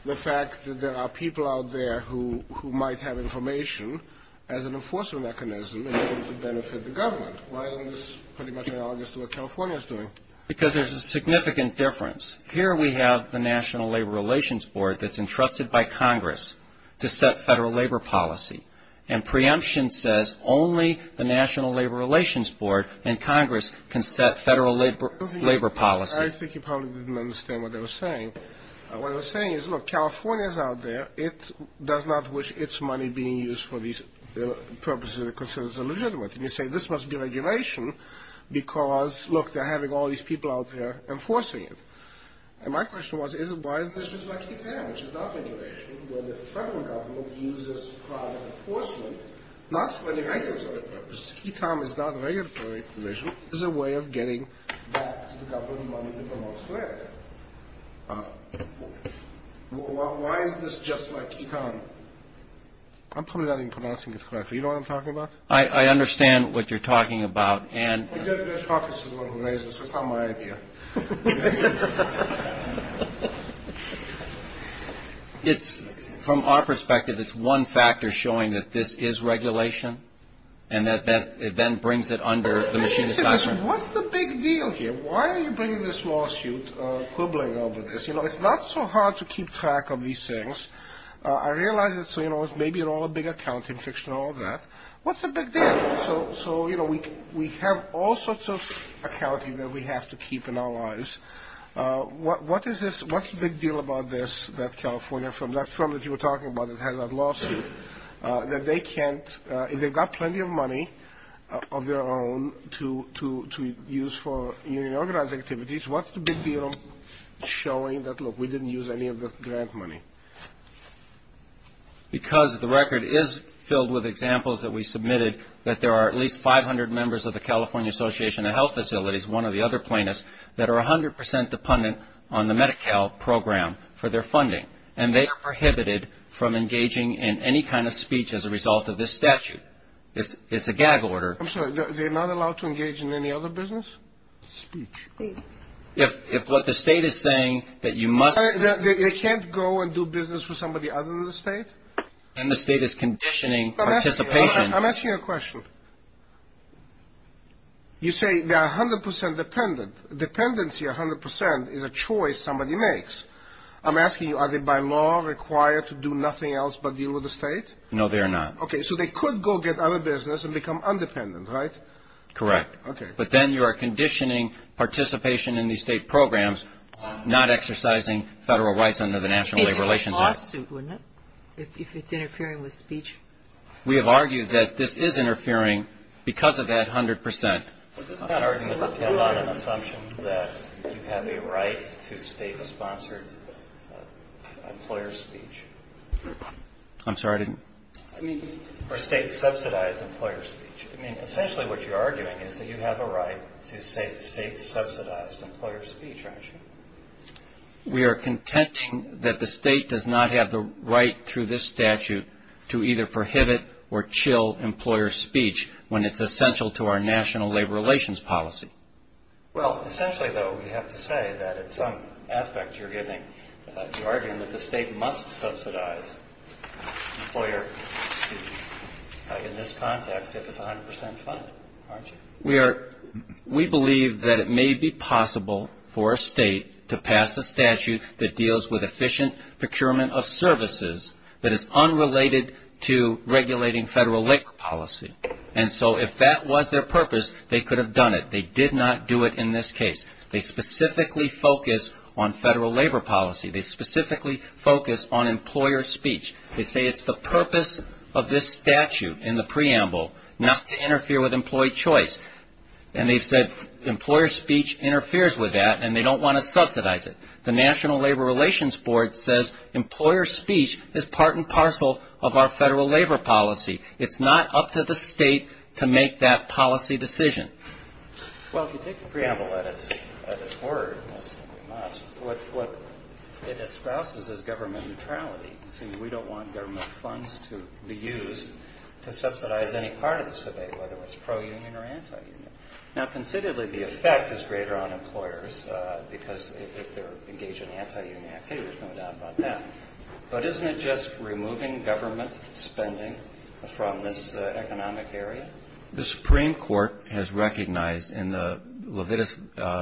the fact that there are people out there who might have information as an enforcement mechanism in order to benefit the government. Why isn't this pretty much analogous to what California is doing? Because there's a significant difference. Here we have the National Labor Relations Board that's entrusted by Congress to set federal labor policy, and preemption says only the National Labor Relations Board and Congress can set federal labor policy. I think you probably didn't understand what they were saying. What they were saying is, look, California is out there. It does not wish its money being used for the purposes it considers illegitimate. And you say, this must be regulation because, look, they're having all these people out there enforcing it. And my question was, why is this just like Ketam, which is not regulation, where the federal government uses private enforcement not for any regulatory purpose? Ketam is not regulatory provision. It's a way of getting back to the government money that belongs to it. Why is this just like Ketam? I'm probably not even pronouncing it correctly. You know what I'm talking about? I understand what you're talking about. And from our perspective, it's one factor showing that this is regulation and that it then brings it under the machine. What's the big deal here? Why are you bringing this lawsuit, quibbling over this? You know, it's not so hard to keep track of these things. I realize it's maybe all a big accounting fiction and all that. What's the big deal? So, you know, we have all sorts of accounting that we have to keep in our lives. What's the big deal about this that California, from that firm that you were talking about that had that lawsuit, that they can't, if they've got plenty of money of their own to use for union organizing activities, what's the big deal showing that, look, we didn't use any of the grant money? Because the record is filled with examples that we submitted, that there are at least 500 members of the California Association of Health Facilities, one of the other plaintiffs, that are 100 percent dependent on the Medi-Cal program for their funding. And they are prohibited from engaging in any kind of speech as a result of this statute. It's a gag order. I'm sorry. They're not allowed to engage in any other business? Speech. If what the State is saying, that you must. They can't go and do business with somebody other than the State? Then the State is conditioning participation. I'm asking you a question. You say they are 100 percent dependent. Dependency 100 percent is a choice somebody makes. I'm asking you, are they by law required to do nothing else but deal with the State? No, they are not. Okay, so they could go get other business and become independent, right? Correct. Okay. But then you are conditioning participation in these State programs, not exercising Federal rights under the National Labor Relations Act. It would be a lawsuit, wouldn't it, if it's interfering with speech? We have argued that this is interfering. Because of that, 100 percent. I'm not arguing with a lot of assumptions that you have a right to State-sponsored employer speech. I'm sorry, I didn't. I mean, or State-subsidized employer speech. I mean, essentially what you're arguing is that you have a right to State-subsidized employer speech, aren't you? We are contending that the State does not have the right through this statute to either prohibit or chill employer speech when it's essential to our national labor relations policy. Well, essentially, though, we have to say that it's some aspect you're giving. You're arguing that the State must subsidize employer speech in this context if it's 100 percent fine, aren't you? We believe that it may be possible for a State to pass a statute that deals with efficient procurement of services that is unrelated to regulating Federal labor policy. And so if that was their purpose, they could have done it. They did not do it in this case. They specifically focus on Federal labor policy. They specifically focus on employer speech. They say it's the purpose of this statute in the preamble not to interfere with employee choice. And they've said employer speech interferes with that, and they don't want to subsidize it. The National Labor Relations Board says employer speech is part and parcel of our Federal labor policy. It's not up to the State to make that policy decision. Well, if you take the preamble at its word, what it espouses is government neutrality. It says we don't want government funds to be used to subsidize any part of this debate, whether it's pro-union or anti-union. Now, considerably, the effect is greater on employers because if they're engaged in anti-union activity, there's no doubt about that. But isn't it just removing government spending from this economic area? The Supreme Court has recognized in the Levitas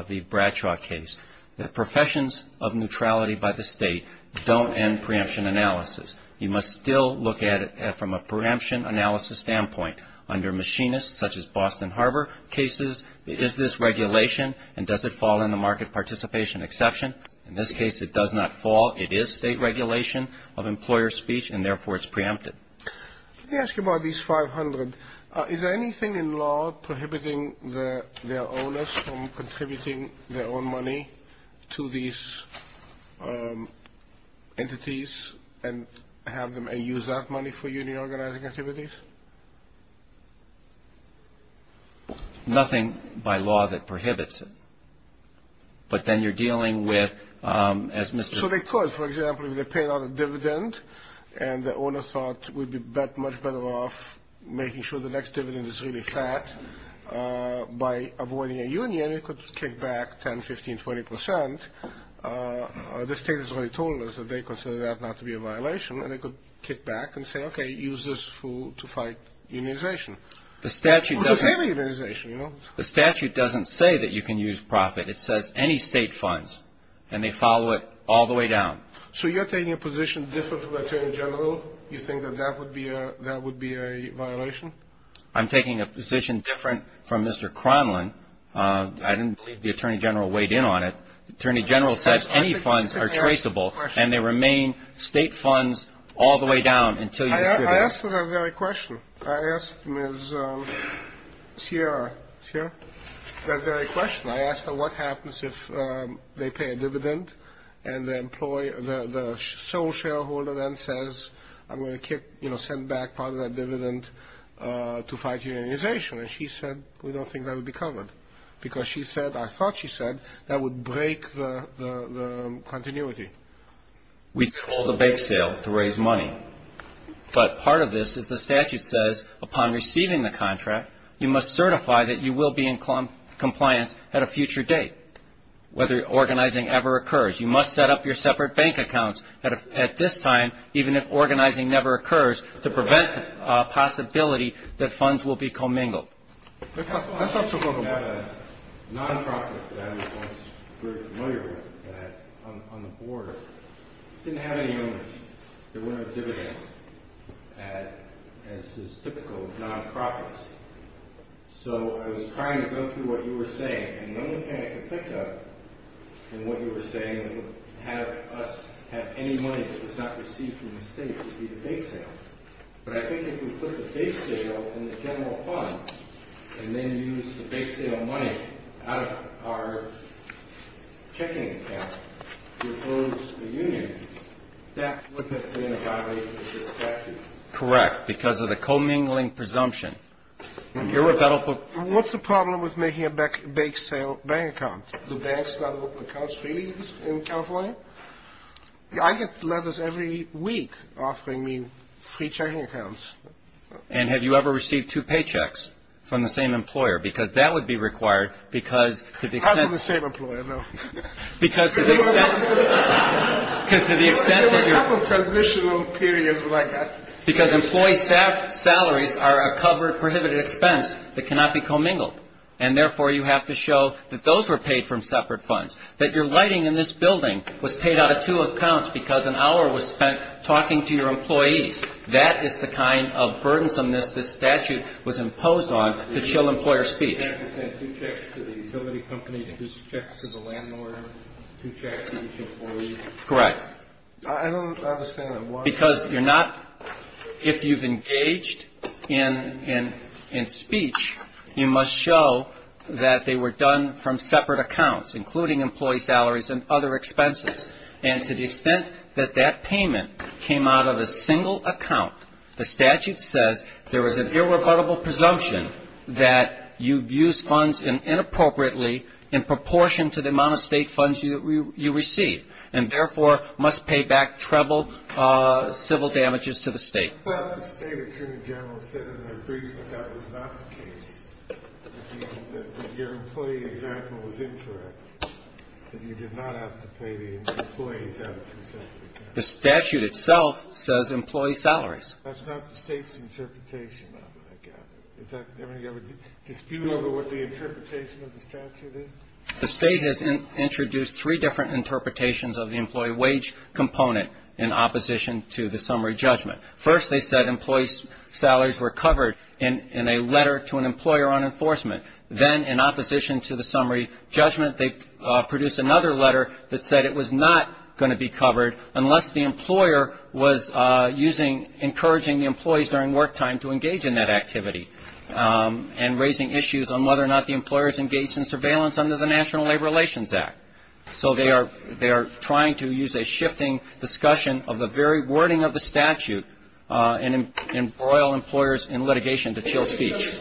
v. Bradshaw case that professions of neutrality by the State don't end preemption analysis. You must still look at it from a preemption analysis standpoint. Under machinists such as Boston Harbor cases, is this regulation, and does it fall in the market participation exception? In this case, it does not fall. It is State regulation of employer speech, and therefore it's preempted. Let me ask you about these 500. Is there anything in law prohibiting their owners from contributing their own money to these entities and have them use that money for union organizing activities? Nothing by law that prohibits it. But then you're dealing with, as Mr. So they could, for example, if they paid out a dividend and the owner thought we'd be much better off making sure the next dividend is really fat, by avoiding a union, it could kick back 10%, 15%, 20%. The State has already told us that they consider that not to be a violation, and they could kick back and say, okay, use this to fight unionization. The statute doesn't say that you can use profit. It says any State funds, and they follow it all the way down. So you're taking a position different from the Attorney General? You think that that would be a violation? I'm taking a position different from Mr. Cronlin. I didn't believe the Attorney General weighed in on it. The Attorney General said any funds are traceable, and they remain State funds all the way down until you consider them. I asked for that very question. I asked Ms. Sierra. Sierra? That very question. I asked her what happens if they pay a dividend and the sole shareholder then says I'm going to send back part of that dividend to fight unionization, and she said we don't think that would be covered because she said, I thought she said, that would break the continuity. We call the bake sale to raise money, but part of this is the statute says upon receiving the contract, you must certify that you will be in compliance at a future date whether organizing ever occurs. You must set up your separate bank accounts at this time even if organizing never occurs to prevent the possibility that funds will be commingled. I have a nonprofit that I was once very familiar with on the board. It didn't have any owners. There wasn't a dividend as is typical of nonprofits. So I was trying to go through what you were saying, and the only thing I could think of in what you were saying that would have us have any money that was not received from the State would be the bake sale. But I think if we put the bake sale in the general fund and then used the bake sale money out of our checking account to close the union, that would have been a violation of the statute. Correct, because of the commingling presumption. What's the problem with making a bake sale bank account? Do banks not open accounts for you in California? No. I get letters every week offering me free checking accounts. And have you ever received two paychecks from the same employer? Because that would be required because to the extent... Not from the same employer, no. Because to the extent that you're... There were a couple of transitional periods where I got... Because employee salaries are a covered prohibited expense that cannot be commingled, and therefore you have to show that those were paid from separate funds, that your lighting in this building was paid out of two accounts because an hour was spent talking to your employees. That is the kind of burdensomeness this statute was imposed on to chill employer speech. You said two checks to the utility company, two checks to the landlord, two checks to each employee. Correct. I don't understand why... Because you're not... If you've engaged in speech, you must show that they were done from separate accounts, including employee salaries and other expenses. And to the extent that that payment came out of a single account, the statute says there was an irrebuttable presumption that you've used funds inappropriately in proportion to the amount of state funds you received, and therefore must pay back treble civil damages to the state. Well, the state attorney general said in their brief that that was not the case, that your employee example was incorrect, that you did not have to pay the employees out of two separate accounts. The statute itself says employee salaries. That's not the state's interpretation of it, I gather. Is that a dispute over what the interpretation of the statute is? The state has introduced three different interpretations of the employee wage component in opposition to the summary judgment. First, they said employee salaries were covered in a letter to an employer on enforcement. Then, in opposition to the summary judgment, they produced another letter that said it was not going to be covered unless the employer was using, encouraging the employees during work time to engage in that activity and raising issues on whether or not the employer is engaged in surveillance under the National Labor Relations Act. So they are trying to use a shifting discussion of the very wording of the statute and embroil employers in litigation to chill speech.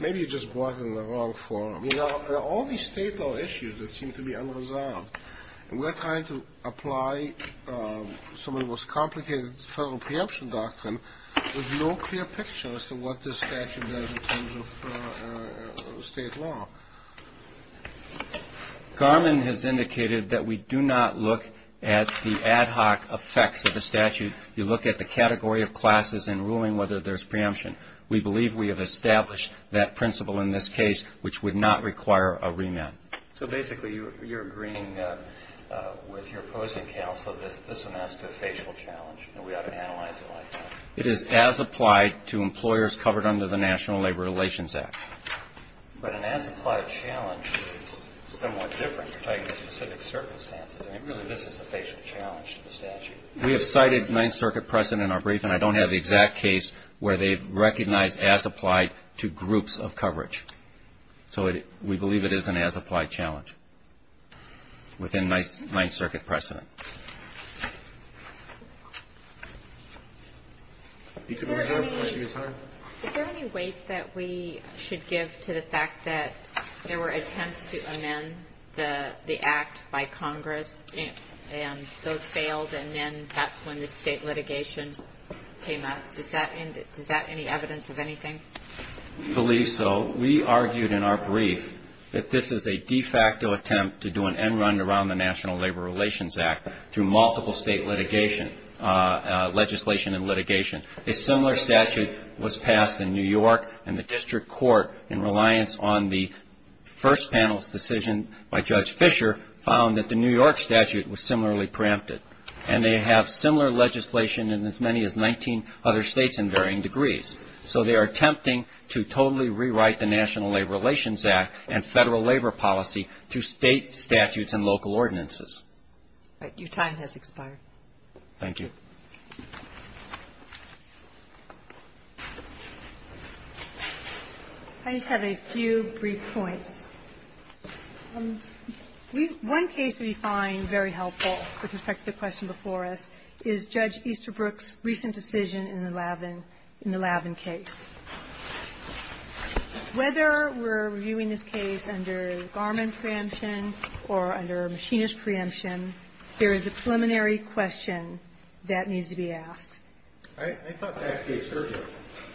Maybe you just brought in the wrong forum. You know, there are all these state law issues that seem to be unresolved, and we're trying to apply some of the most complicated federal preemption doctrine with no clear picture as to what this statute does in terms of state law. Garmon has indicated that we do not look at the ad hoc effects of the statute. You look at the category of classes and ruling whether there's preemption. We believe we have established that principle in this case, which would not require a remand. So basically you're agreeing with your opposing counsel that this amounts to a facial challenge and we ought to analyze it like that. It is as applied to employers covered under the National Labor Relations Act. But an as-applied challenge is somewhat different under specific circumstances. I mean, really, this is a facial challenge to the statute. We have cited Ninth Circuit precedent in our brief, and I don't have the exact case where they've recognized as applied to groups of coverage. So we believe it is an as-applied challenge within Ninth Circuit precedent. Is there any weight that we should give to the fact that there were attempts to amend the act by Congress and those failed and then that's when the state litigation came up? Does that have any evidence of anything? We believe so. We argued in our brief that this is a de facto attempt to do an end run around the National Labor Relations Act through multiple state litigation, legislation and litigation. A similar statute was passed in New York and the district court, in reliance on the first panel's decision by Judge Fisher, found that the New York statute was similarly preempted. And they have similar legislation in as many as 19 other states in varying degrees. So they are attempting to totally rewrite the National Labor Relations Act and Federal Labor Policy through state statutes and local ordinances. All right. Your time has expired. Thank you. I just have a few brief points. One case we find very helpful with respect to the question before us is Judge Easterbrook's recent decision in the Lavin case. Whether we're reviewing this case under Garmin preemption or under Machinist preemption, there is a preliminary question that needs to be asked. I thought that case urgent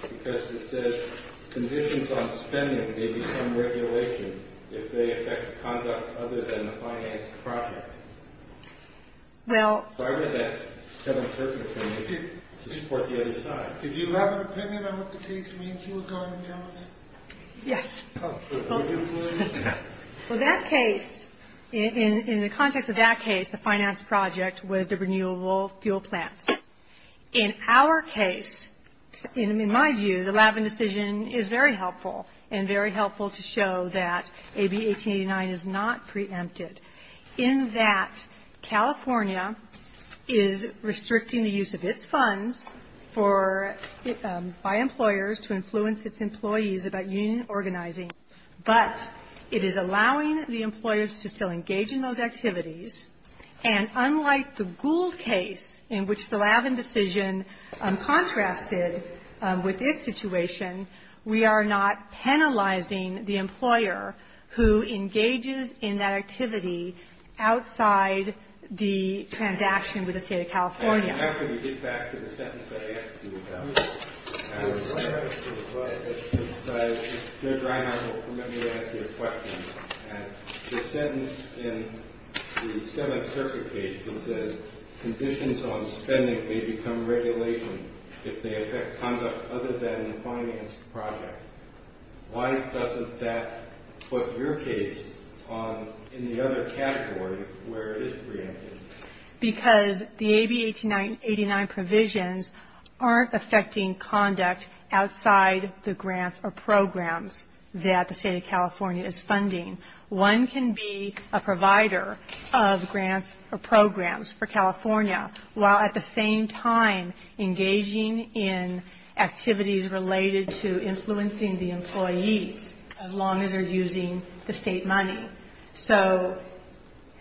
because it says conditions on spending may be some regulation if they affect conduct other than the finance project. Well. Did you have an opinion on what the case means? You were going to tell us. Yes. Well, that case, in the context of that case, the finance project was the renewable fuel plants. In our case, in my view, the Lavin decision is very helpful and very helpful to show that AB 1889 is not preempted. In that California is restricting the use of its funds for by employers to influence its employees about union organizing. But it is allowing the employers to still engage in those activities. And unlike the Gould case in which the Lavin decision contrasted with its situation, we are not penalizing the employer who engages in that activity outside the transaction with the State of California. How can we get back to the sentence that I asked you about? The sentence in the 7th Circuit case that says conditions on spending may become regulation if they affect conduct other than the finance project. Why doesn't that put your case in the other category where it is preempted? Because the AB 1889 provisions aren't affecting conduct outside the grants or programs that the State of California is funding. One can be a provider of grants or programs for California while at the same time engaging in activities related to influencing the employees as long as they're using the State money. So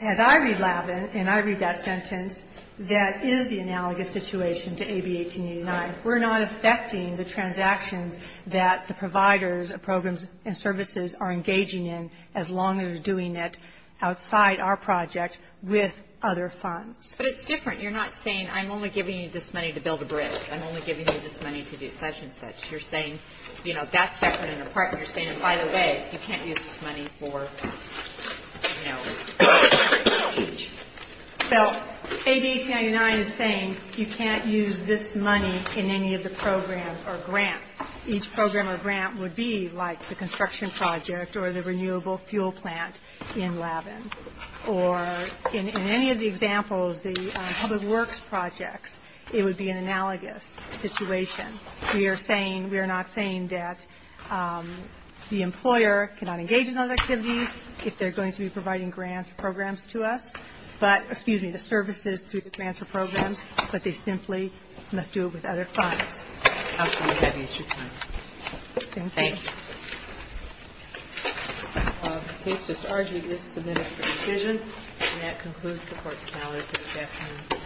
as I read Lavin and I read that sentence, that is the analogous situation to AB 1889. We're not affecting the transactions that the providers of programs and services are engaging in as long as they're doing it outside our project with other funds. But it's different. You're not saying I'm only giving you this money to build a bridge. I'm only giving you this money to do such and such. You're saying, you know, that's separate and apart. You're saying, and by the way, you can't use this money for, you know, a bridge. So AB 1889 is saying you can't use this money in any of the programs or grants. Each program or grant would be like the construction project or the renewable fuel plant in Lavin. Or in any of the examples, the public works projects, it would be an analogous situation. We are saying, we are not saying that the employer cannot engage in those activities if they're going to be providing grants or programs to us, but, excuse me, the services through the grants or programs, but they simply must do it with other funds. I'm sorry to have eased your time. Thank you. Thank you. Case discharge is submitted for decision. And that concludes the Court's calendar for this afternoon.